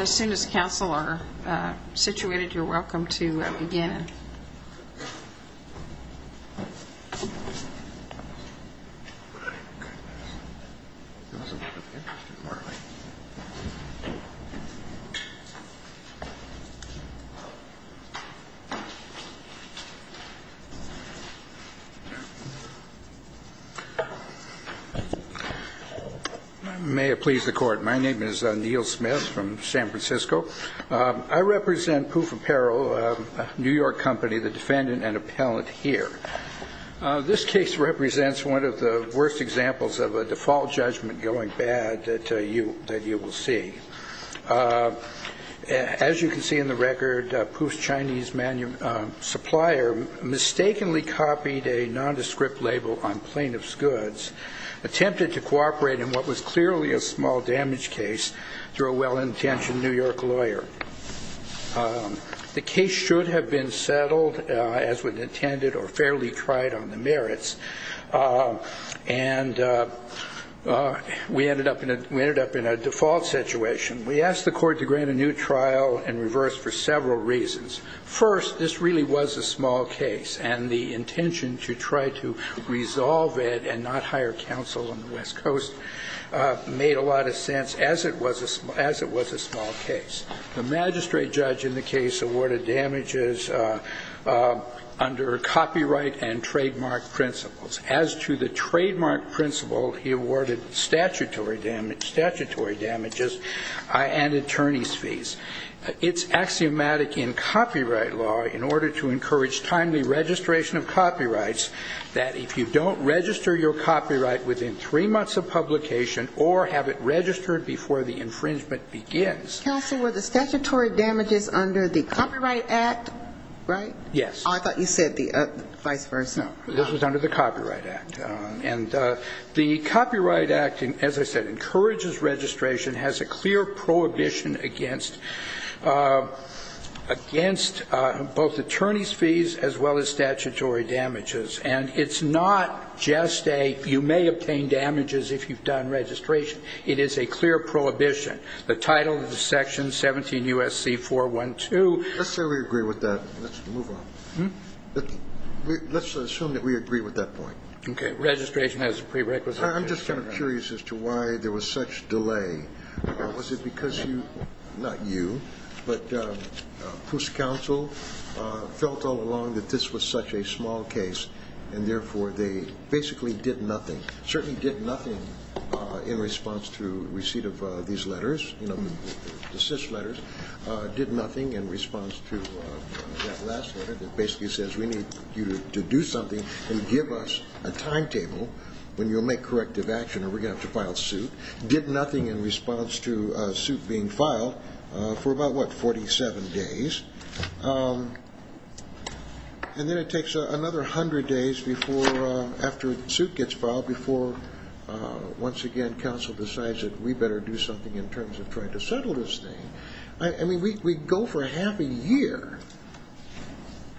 As soon as council are situated, you're welcome to begin. May it please the court, my name is Neil Smith from San Francisco. I represent Poof Apparel, a New York company, the defendant and appellant here. This case represents one of the worst examples of a default judgment going bad that you will see. As you can see in the record, Poof's Chinese supplier mistakenly copied a nondescript label on plaintiff's goods, attempted to cooperate in what was clearly a small damage case through a well-intentioned New York lawyer. The case should have been settled as was intended or fairly tried on the merits, and we ended up in a default situation. We asked the court to grant a new trial and reverse for several reasons. First, this really was a small case, and the intention to try to resolve it and not hire counsel on the West Coast made a lot of sense as it was a small case. The magistrate judge in the case awarded damages under copyright and trademark principles. As to the trademark principle, he awarded statutory damages and attorney's fees. It's axiomatic in copyright law in order to encourage timely registration of copyrights, that if you don't register your copyright within three months of publication or have it registered before the infringement begins. Counsel, were the statutory damages under the Copyright Act, right? Yes. Oh, I thought you said the vice versa. No, this was under the Copyright Act. And the Copyright Act, as I said, encourages registration, has a clear prohibition against both attorney's fees as well as statutory damages. And it's not just a you may obtain damages if you've done registration. It is a clear prohibition. The title of the section, 17 U.S.C. 412. Let's say we agree with that. Let's move on. Let's assume that we agree with that point. Okay. Registration has prerequisites. I'm just kind of curious as to why there was such delay. Was it because you, not you, but PUSC counsel felt all along that this was such a small case and, therefore, they basically did nothing, certainly did nothing in response to receipt of these letters, you know, the CIS letters, did nothing in response to that last letter that basically says we need you to do something and give us a timetable when you'll make corrective action or we're going to have to file suit, did nothing in response to a suit being filed for about, what, 47 days. And then it takes another 100 days before, after a suit gets filed, before, once again, counsel decides that we better do something in terms of trying to settle this thing. I mean, we go for half a year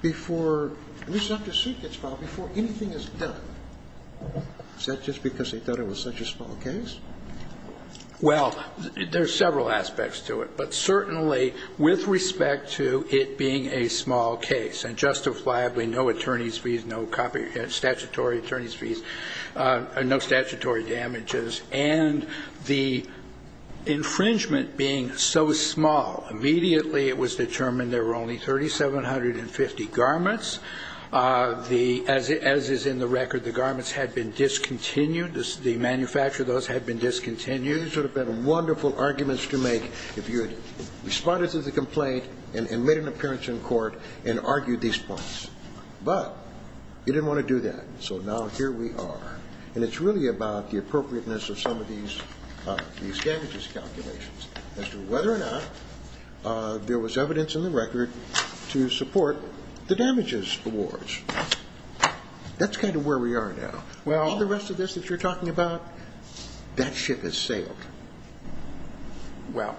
before, at least after a suit gets filed, before anything is done. Is that just because they thought it was such a small case? Well, there's several aspects to it, but certainly with respect to it being a small case, and justifiably no attorney's fees, no statutory attorney's fees, no statutory damages, and the infringement being so small, immediately it was determined there were only 3,750 garments. As is in the record, the garments had been discontinued. The manufacturer of those had been discontinued. These would have been wonderful arguments to make if you had responded to the complaint and made an appearance in court and argued these points. But you didn't want to do that, so now here we are. And it's really about the appropriateness of some of these damages calculations as to whether or not there was evidence in the record to support the damages awards. That's kind of where we are now. And the rest of this that you're talking about, that ship has sailed. Well,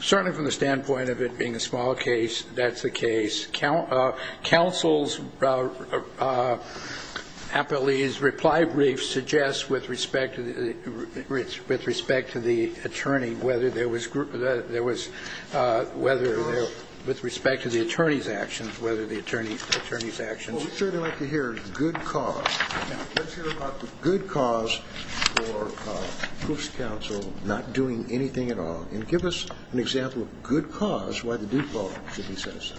certainly from the standpoint of it being a small case, that's the case. Counsel's appellee's reply brief suggests with respect to the attorney whether there was whether there was, with respect to the attorney's actions, whether the attorney's actions Well, we'd certainly like to hear good cause. Let's hear about the good cause for proofs counsel not doing anything at all. And give us an example of good cause, why the default, should we say so.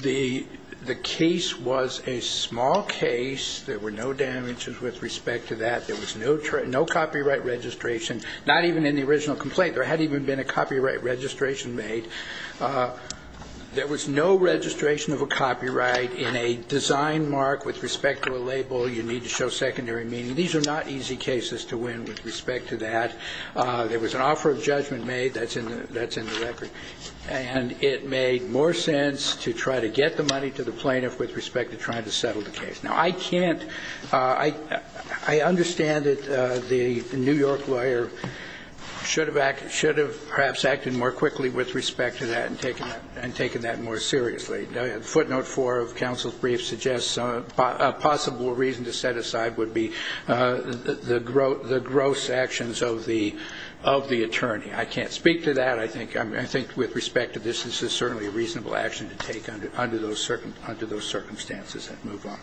The case was a small case. There were no damages with respect to that. There was no copyright registration, not even in the original complaint. There hadn't even been a copyright registration made. There was no registration of a copyright in a design mark with respect to a label. You need to show secondary meaning. These are not easy cases to win with respect to that. There was an offer of judgment made. That's in the record. And it made more sense to try to get the money to the plaintiff with respect to trying to settle the case. Now, I can't, I understand that the New York lawyer should have perhaps acted more quickly with respect to that and taken that more seriously. Footnote four of counsel's brief suggests a possible reason to set aside would be the gross actions of the attorney. I can't speak to that. I think with respect to this, this is certainly a reasonable action to take under those circumstances and move on.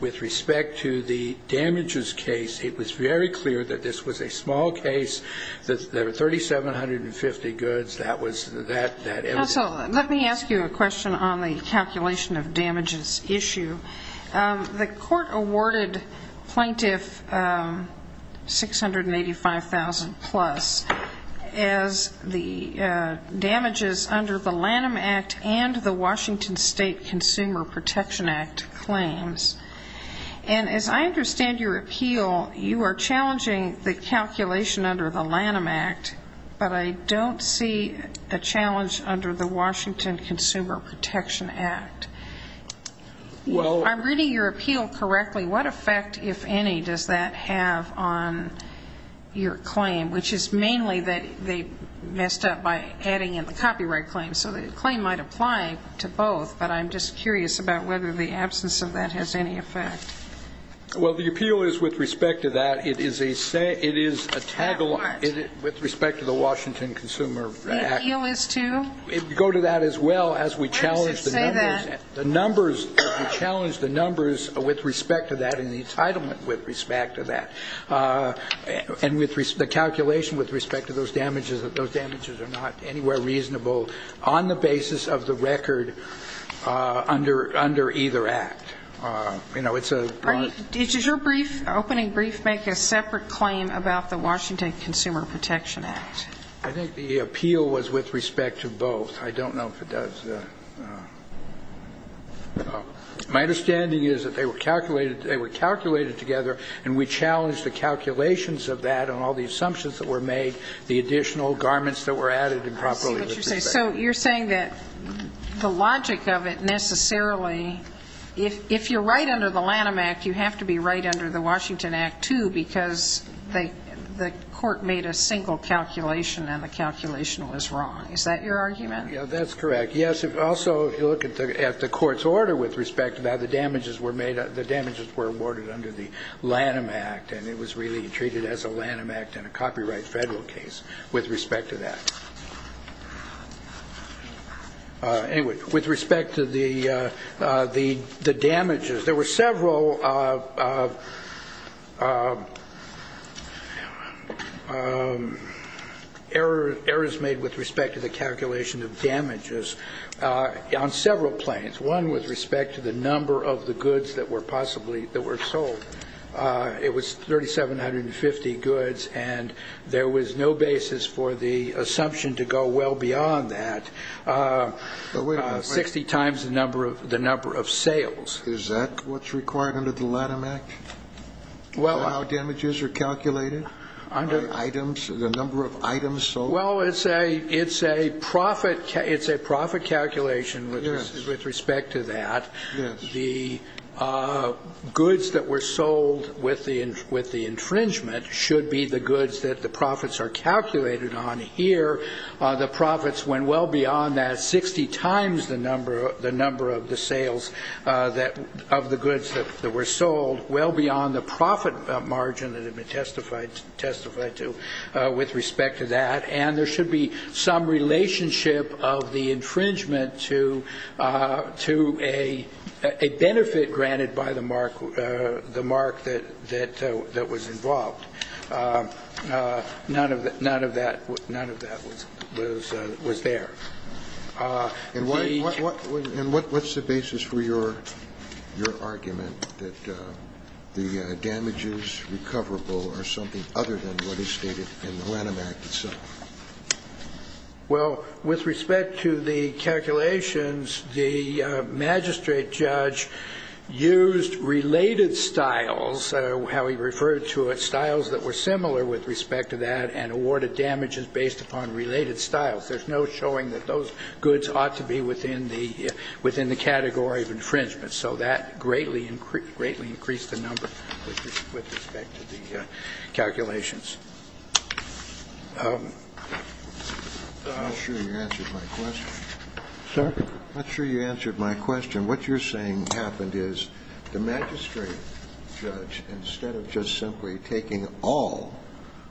With respect to the damages case, it was very clear that this was a small case. There were 3,750 goods. Let me ask you a question on the calculation of damages issue. The court awarded plaintiff 685,000 plus as the damages under the Lanham Act and the Washington State Consumer Protection Act claims. And as I understand your appeal, you are challenging the calculation under the Lanham Act, but I don't see a challenge under the Washington Consumer Protection Act. I'm reading your appeal correctly. What effect, if any, does that have on your claim, which is mainly that they messed up by adding in the copyright claim. So the claim might apply to both, but I'm just curious about whether the absence of that has any effect. Well, the appeal is with respect to that. It is a tag along with respect to the Washington Consumer Act. The appeal is to? Go to that as well as we challenge the numbers. We challenge the numbers with respect to that and the entitlement with respect to that and the calculation with respect to those damages, that those damages are not anywhere reasonable on the basis of the record under either act. Does your opening brief make a separate claim about the Washington Consumer Protection Act? I think the appeal was with respect to both. I don't know if it does. My understanding is that they were calculated together and we challenged the calculations of that and all the assumptions that were made, the additional garments that were added improperly with respect to that. I see what you're saying. So you're saying that the logic of it necessarily, if you're right under the Lanham Act, you have to be right under the Washington Act, too, because the court made a single calculation and the calculation was wrong. Is that your argument? Yeah, that's correct. Also, if you look at the court's order with respect to how the damages were made, the damages were awarded under the Lanham Act and it was really treated as a Lanham Act and a copyright federal case with respect to that. Anyway, with respect to the damages, there were several errors made with respect to the calculation of damages on several planes, one with respect to the number of the goods that were possibly sold. It was 3,750 goods and there was no basis for the assumption to go well beyond that, 60 times the number of sales. Is that what's required under the Lanham Act, how damages are calculated, the number of items sold? Well, it's a profit calculation with respect to that. The goods that were sold with the infringement should be the goods that the profits are calculated on here. The profits went well beyond that, 60 times the number of the sales of the goods that were sold, well beyond the profit margin that had been testified to with respect to that. And there should be some relationship of the infringement to a benefit granted by the mark that was involved. None of that was there. And what's the basis for your argument that the damages recoverable are something other than what is stated in the Lanham Act itself? Well, with respect to the calculations, the magistrate judge used related styles, how he referred to it, styles that were similar with respect to that, and awarded damages based upon related styles. There's no showing that those goods ought to be within the category of infringement. So that greatly increased the number with respect to the calculations. I'm not sure you answered my question. Sir? I'm not sure you answered my question. What you're saying happened is the magistrate judge, instead of just simply taking all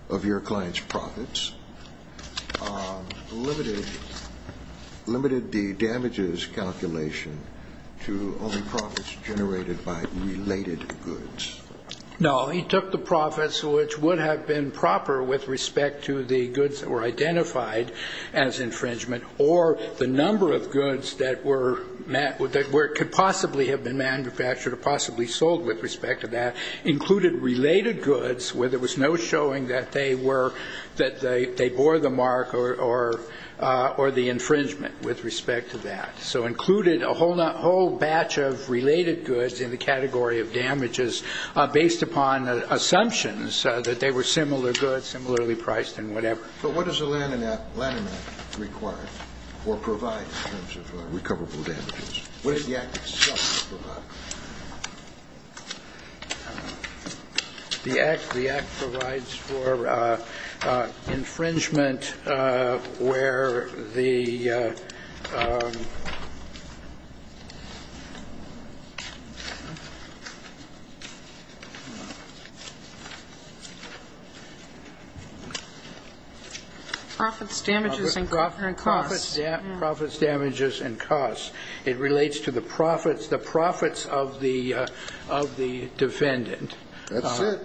of your client's profits, limited the damages calculation to only profits generated by related goods. No, he took the profits which would have been proper with respect to the goods that were identified as infringement or the number of goods that could possibly have been manufactured or possibly sold with respect to that, included related goods where there was no showing that they bore the mark or the infringement with respect to that. So included a whole batch of related goods in the category of damages based upon assumptions that they were similar goods, similarly priced and whatever. But what does the Lanham Act require or provide in terms of recoverable damages? What does the Act itself provide? The Act provides for infringement where the ‑‑ Profits, damages and costs. Profits, damages and costs. It relates to the profits of the defendant. That's it.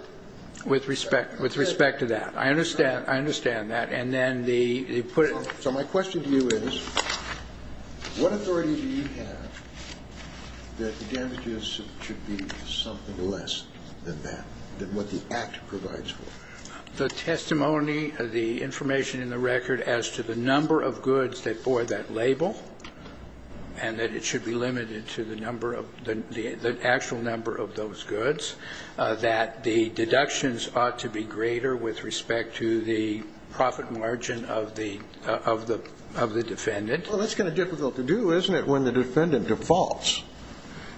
With respect to that. I understand that. So my question to you is, what authority do you have that the damages should be something less than that, than what the Act provides for? The testimony, the information in the record as to the number of goods that bore that label and that it should be limited to the actual number of those goods, that the deductions ought to be greater with respect to the profit margin of the defendant. Well, that's kind of difficult to do, isn't it, when the defendant defaults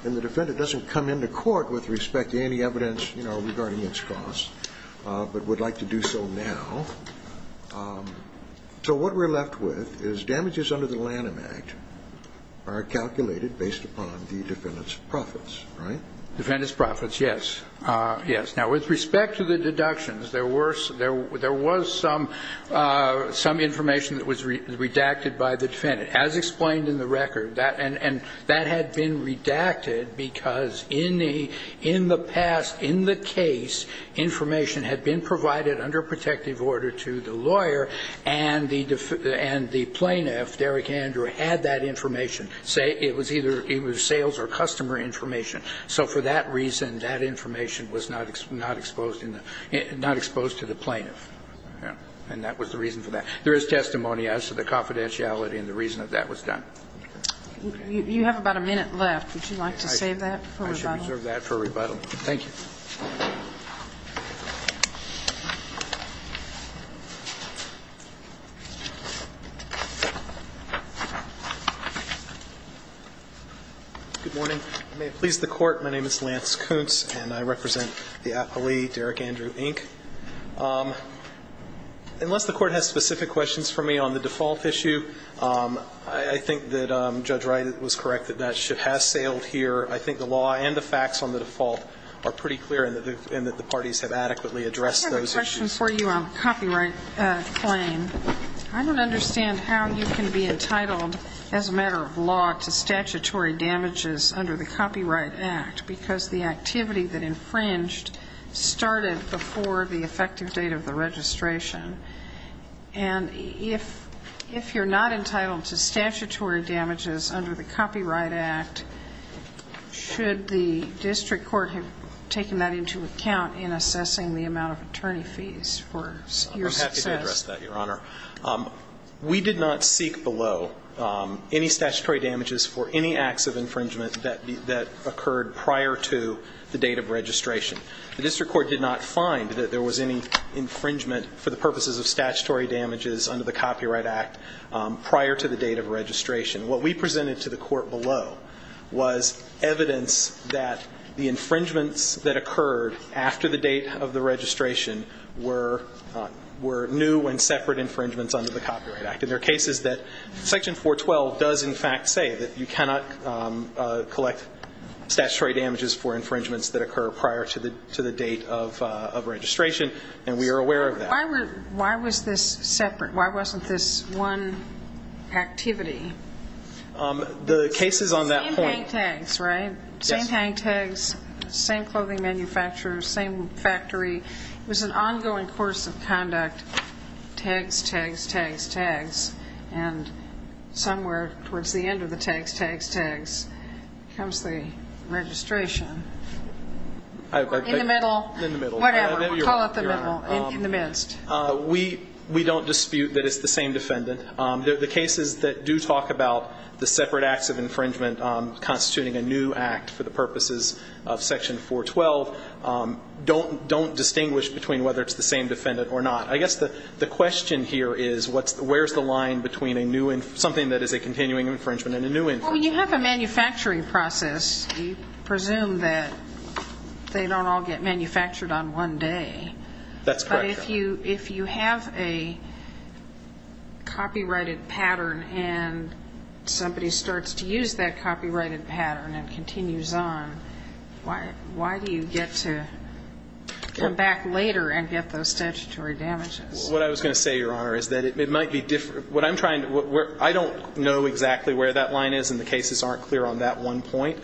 and the defendant doesn't come into court with respect to any evidence regarding its costs but would like to do so now. So what we're left with is damages under the Lanham Act are calculated based upon the defendant's profits, right? Defendant's profits, yes. Now, with respect to the deductions, there was some information that was redacted by the defendant. As explained in the record, and that had been redacted because in the past, in the case, information had been provided under protective order to the lawyer and the plaintiff, Derrick Andrew, had that information. It was either sales or customer information. So for that reason, that information was not exposed to the plaintiff. And that was the reason for that. There is testimony as to the confidentiality and the reason that that was done. You have about a minute left. Would you like to save that for rebuttal? I should reserve that for rebuttal. Thank you. Good morning. May it please the Court, my name is Lance Kuntz and I represent the appellee, Derrick Andrew, Inc. Unless the Court has specific questions for me on the default issue, I think that Judge Wright was correct that that ship has sailed here. I think the law and the facts on the default are pretty clear and that the parties have adequately addressed those issues. I have a question for you on the copyright claim. I don't understand how you can be entitled as a matter of law to statutory damages under the Copyright Act because the activity that infringed started before the effective date of the registration. And if you're not entitled to statutory damages under the Copyright Act, should the district court have taken that into account in assessing the amount of attorney fees for your success? I'm happy to address that, Your Honor. We did not seek below any statutory damages for any acts of infringement that occurred prior to the date of registration. The district court did not find that there was any infringement for the purposes of statutory damages under the Copyright Act prior to the date of registration. What we presented to the court below was evidence that the infringements that occurred after the date of the registration were new and separate infringements under the Copyright Act. And there are cases that Section 412 does in fact say that you cannot collect statutory damages for infringements that occur prior to the date of registration, and we are aware of that. Why was this separate? Why wasn't this one activity? The case is on that point. Same hang tags, right? Same hang tags, same clothing manufacturer, same factory. It was an ongoing course of conduct. Tags, tags, tags, tags. And somewhere towards the end of the tags, tags, tags comes the registration. In the middle? In the middle. Whatever. Call it the middle, in the midst. We don't dispute that it's the same defendant. The cases that do talk about the separate acts of infringement constituting a new act for the purposes of Section 412 don't distinguish between whether it's the same defendant or not. I guess the question here is where's the line between something that is a continuing infringement and a new infringement? Well, when you have a manufacturing process, you presume that they don't all get manufactured on one day. That's correct, Your Honor. But if you have a copyrighted pattern and somebody starts to use that copyrighted pattern and continues on, why do you get to come back later and get those statutory damages? What I was going to say, Your Honor, is that it might be different. I don't know exactly where that line is, and the cases aren't clear on that one point.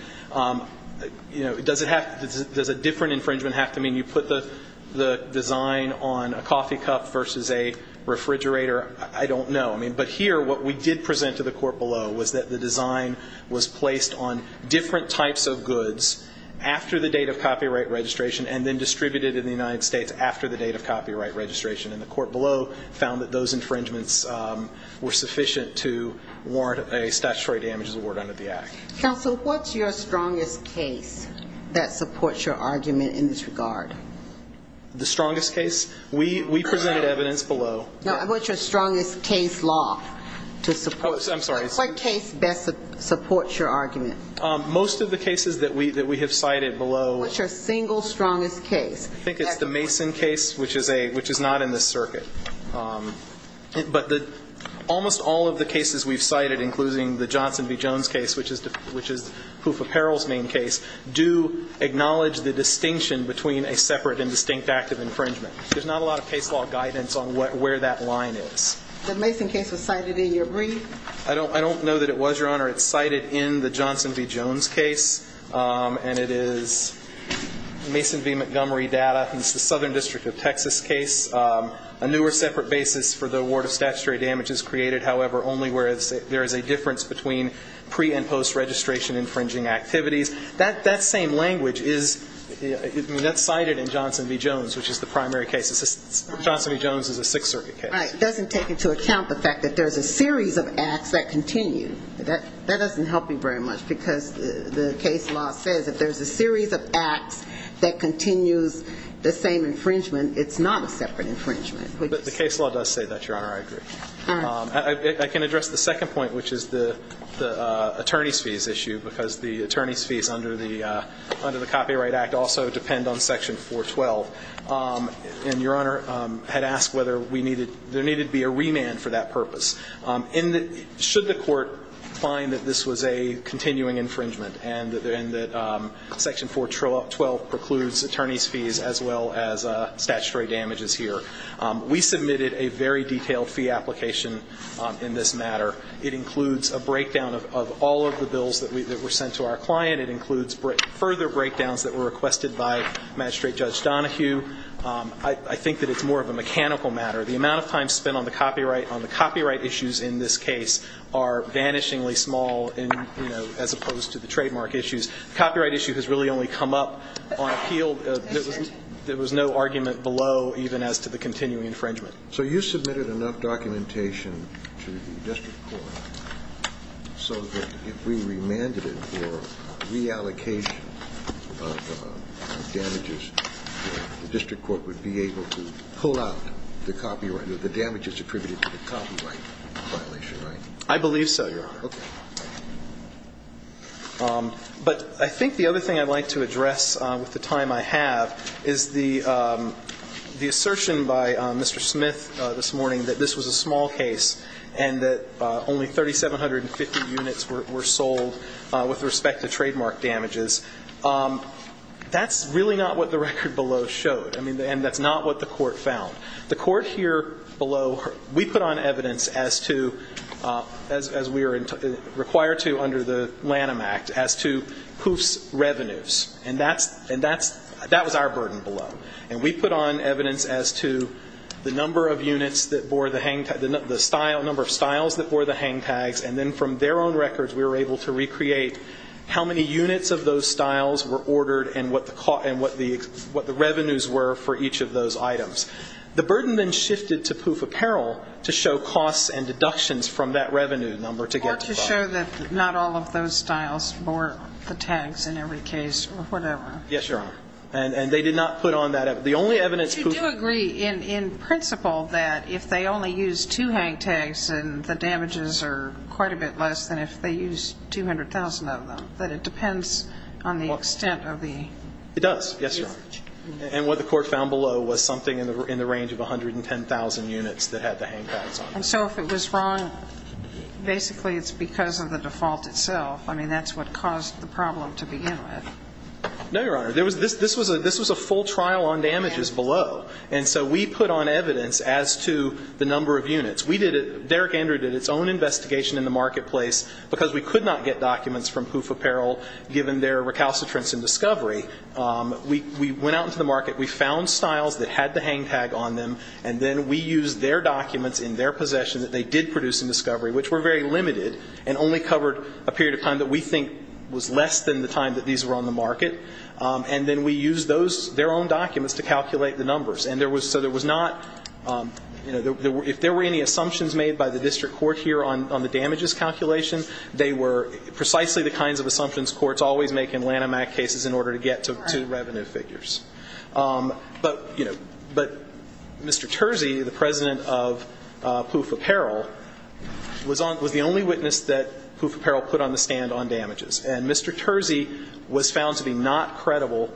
Does a different infringement have to mean you put the design on a coffee cup versus a refrigerator? I don't know. But here, what we did present to the court below was that the design was placed on different types of goods after the date of copyright registration and then distributed in the United States after the date of copyright registration. And the court below found that those infringements were sufficient to warrant a statutory damages award under the Act. Counsel, what's your strongest case that supports your argument in this regard? The strongest case? We presented evidence below. What's your strongest case law to support? I'm sorry. What case best supports your argument? Most of the cases that we have cited below. What's your single strongest case? I think it's the Mason case, which is not in this circuit. But almost all of the cases we've cited, including the Johnson v. Jones case, which is Hoof Apparel's main case, do acknowledge the distinction between a separate and distinct act of infringement. There's not a lot of case law guidance on where that line is. The Mason case was cited in your brief? I don't know that it was, Your Honor. It's cited in the Johnson v. Jones case, and it is Mason v. Montgomery data. It's the Southern District of Texas case. A new or separate basis for the award of statutory damage is created, however, only where there is a difference between pre- and post-registration infringing activities. That same language is cited in Johnson v. Jones, which is the primary case. Johnson v. Jones is a Sixth Circuit case. Right. It doesn't take into account the fact that there's a series of acts that continue. That doesn't help me very much, because the case law says if there's a series of acts that continues the same infringement, it's not a separate infringement. But the case law does say that, Your Honor. I agree. All right. I can address the second point, which is the attorney's fees issue, because the attorney's fees under the Copyright Act also depend on Section 412. And Your Honor had asked whether there needed to be a remand for that purpose. Should the Court find that this was a continuing infringement and that Section 412 precludes attorney's fees as well as statutory damages here? We submitted a very detailed fee application in this matter. It includes a breakdown of all of the bills that were sent to our client. It includes further breakdowns that were requested by Magistrate Judge Donohue. I think that it's more of a mechanical matter. The amount of time spent on the copyright issues in this case are vanishingly small, as opposed to the trademark issues. The copyright issue has really only come up on appeal. There was no argument below even as to the continuing infringement. So you submitted enough documentation to the district court so that if we remanded it for reallocation of damages, the district court would be able to pull out the copyright or the damages attributed to the copyright violation, right? I believe so, Your Honor. Okay. But I think the other thing I'd like to address with the time I have is the assertion by Mr. Smith this morning that this was a small case and that only 3,750 units were sold with respect to trademark damages. That's really not what the record below showed. I mean, and that's not what the Court found. The Court here below, we put on evidence as we are required to under the Lanham Act as to whose revenues, and that was our burden below. And we put on evidence as to the number of units that bore the hang tag, the number of styles that bore the hang tags, and then from their own records we were able to recreate how many units of those styles were ordered and what the revenues were for each of those items. The burden then shifted to POOF Apparel to show costs and deductions from that revenue number to get to them. Or to show that not all of those styles bore the tags in every case or whatever. Yes, Your Honor. And they did not put on that evidence. The only evidence POOF ---- But you do agree in principle that if they only used two hang tags and the damages are quite a bit less than if they used 200,000 of them, that it depends on the extent of the usage. It does. Yes, Your Honor. And what the Court found below was something in the range of 110,000 units that had the hang tags on them. And so if it was wrong, basically it's because of the default itself. I mean, that's what caused the problem to begin with. No, Your Honor. This was a full trial on damages below. And so we put on evidence as to the number of units. We did it ---- Derek Andrew did its own investigation in the marketplace because we could not get their recalcitrance in discovery. We went out into the market. We found styles that had the hang tag on them, and then we used their documents in their possession that they did produce in discovery, which were very limited and only covered a period of time that we think was less than the time that these were on the market. And then we used those ---- their own documents to calculate the numbers. And there was ---- so there was not ---- you know, if there were any assumptions made by the district court here on the damages calculation, they were precisely the kinds of assumptions courts always make in Lanham Act cases in order to get to revenue figures. But, you know, Mr. Terzi, the president of POOF Apparel, was the only witness that POOF Apparel put on the stand on damages. And Mr. Terzi was found to be not credible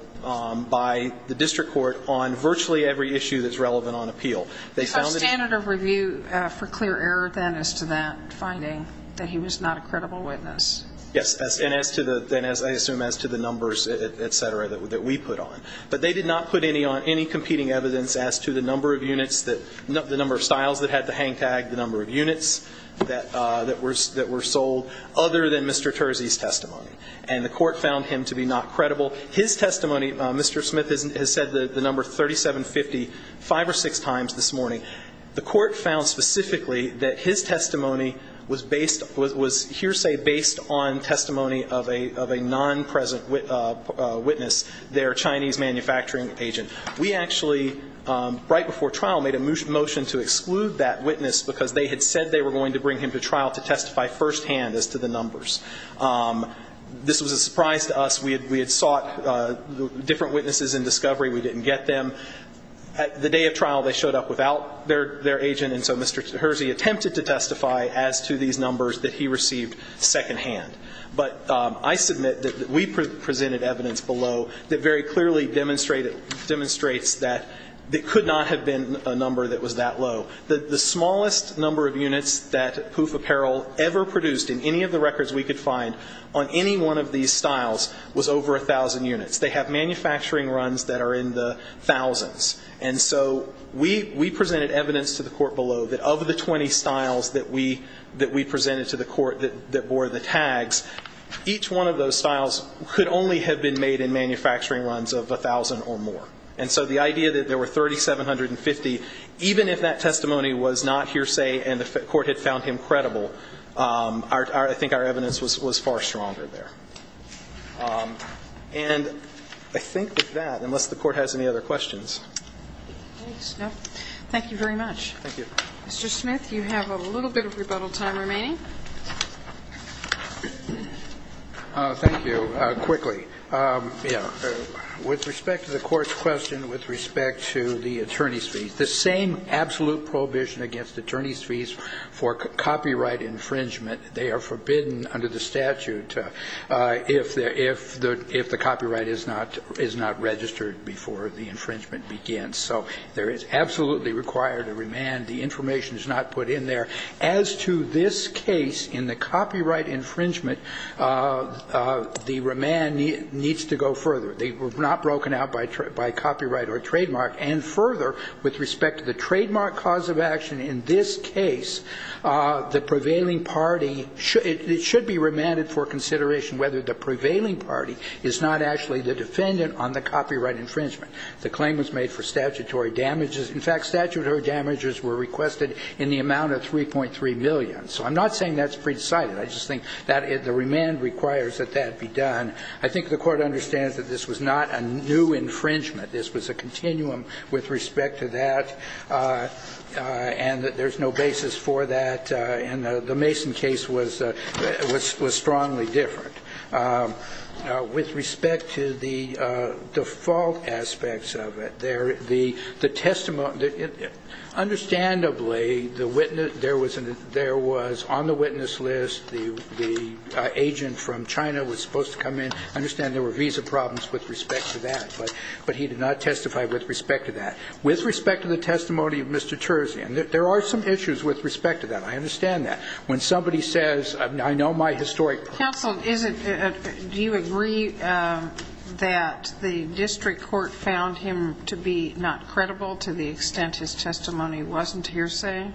by the district court on virtually every issue that's relevant on appeal. They found that he ---- So standard of review for clear error then as to that finding, that he was not a credible witness. Yes. And as to the ---- I assume as to the numbers, et cetera, that we put on. But they did not put any on any competing evidence as to the number of units that ---- the number of styles that had the hang tag, the number of units that were sold other than Mr. Terzi's testimony. And the court found him to be not credible. His testimony, Mr. Smith has said the number 3750 five or six times this morning. The court found specifically that his testimony was based ---- was hearsay based on testimony of a non-present witness, their Chinese manufacturing agent. We actually, right before trial, made a motion to exclude that witness because they had said they were going to bring him to trial to testify firsthand as to the numbers. This was a surprise to us. We had sought different witnesses in discovery. We didn't get them. At the day of trial, they showed up without their agent. And so Mr. Terzi attempted to testify as to these numbers that he received secondhand. But I submit that we presented evidence below that very clearly demonstrated ---- demonstrates that it could not have been a number that was that low. The smallest number of units that Pouf Apparel ever produced in any of the records we could find on any one of these styles was over a thousand units. They have manufacturing runs that are in the thousands. And so we presented evidence to the court below that of the 20 styles that we presented to the court that bore the tags, each one of those styles could only have been made in manufacturing runs of a thousand or more. And so the idea that there were 3750, even if that testimony was not hearsay and the court had found him credible, I think our evidence was far stronger there. And I think with that, unless the court has any other questions. Thank you very much. Thank you. Mr. Smith, you have a little bit of rebuttal time remaining. Thank you. Quickly. With respect to the court's question with respect to the attorney's fees, the same absolute prohibition against attorney's fees for copyright infringement, they are forbidden under the statute if the copyright is not registered before the infringement begins. So there is absolutely required a remand. The information is not put in there. As to this case, in the copyright infringement, the remand needs to go further. They were not broken out by copyright or trademark. And further, with respect to the trademark cause of action in this case, the prevailing party, it should be remanded for consideration whether the prevailing party is not actually the defendant on the copyright infringement. The claim was made for statutory damages. In fact, statutory damages were requested in the amount of 3.3 million. So I'm not saying that's pre-decided. I just think that the remand requires that that be done. I think the court understands that this was not a new infringement. This was a continuum with respect to that and that there's no basis for that and that the Mason case was strongly different. With respect to the default aspects of it, the testimony, understandably, there was on the witness list, the agent from China was supposed to come in, understand there were visa problems with respect to that, but he did not testify with respect to that. With respect to the testimony of Mr. Terzian, there are some issues with respect to that. I understand that. When somebody says, I know my historic... Counsel, do you agree that the district court found him to be not credible to the extent his testimony wasn't hearsay?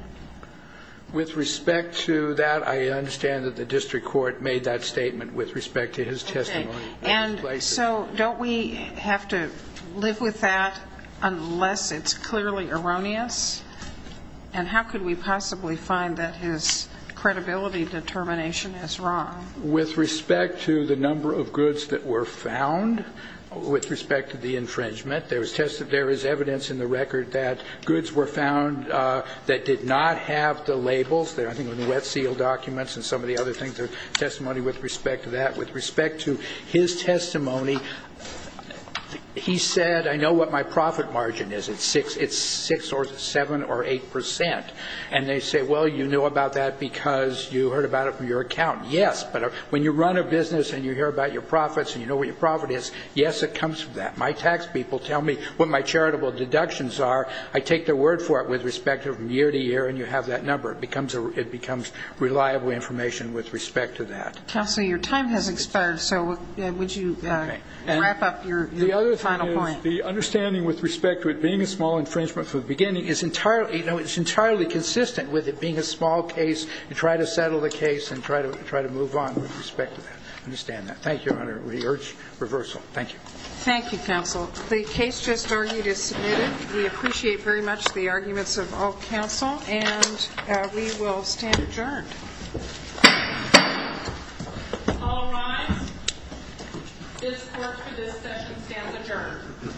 With respect to that, I understand that the district court made that statement with respect to his testimony. Okay. And so don't we have to live with that unless it's clearly erroneous? And how could we possibly find that his credibility determination is wrong? With respect to the number of goods that were found, with respect to the infringement, there is evidence in the record that goods were found that did not have the labels, I think the wet seal documents and some of the other things, the testimony with respect to that. With respect to his testimony, he said, I know what my profit margin is. It's six or seven or eight percent. And they say, well, you know about that because you heard about it from your account. Yes, but when you run a business and you hear about your profits and you know what your profit is, yes, it comes from that. My tax people tell me what my charitable deductions are. I take their word for it with respect to from year to year, and you have that number. It becomes reliable information with respect to that. Counsel, your time has expired, so would you wrap up your final point? The understanding with respect to it being a small infringement from the beginning is entirely consistent with it being a small case and try to settle the case and try to move on with respect to that. I understand that. Thank you, Your Honor. We urge reversal. Thank you. Thank you, counsel. The case just argued is submitted. We appreciate very much the arguments of all counsel, and we will stand adjourned. All rise. This court for this session stands adjourned.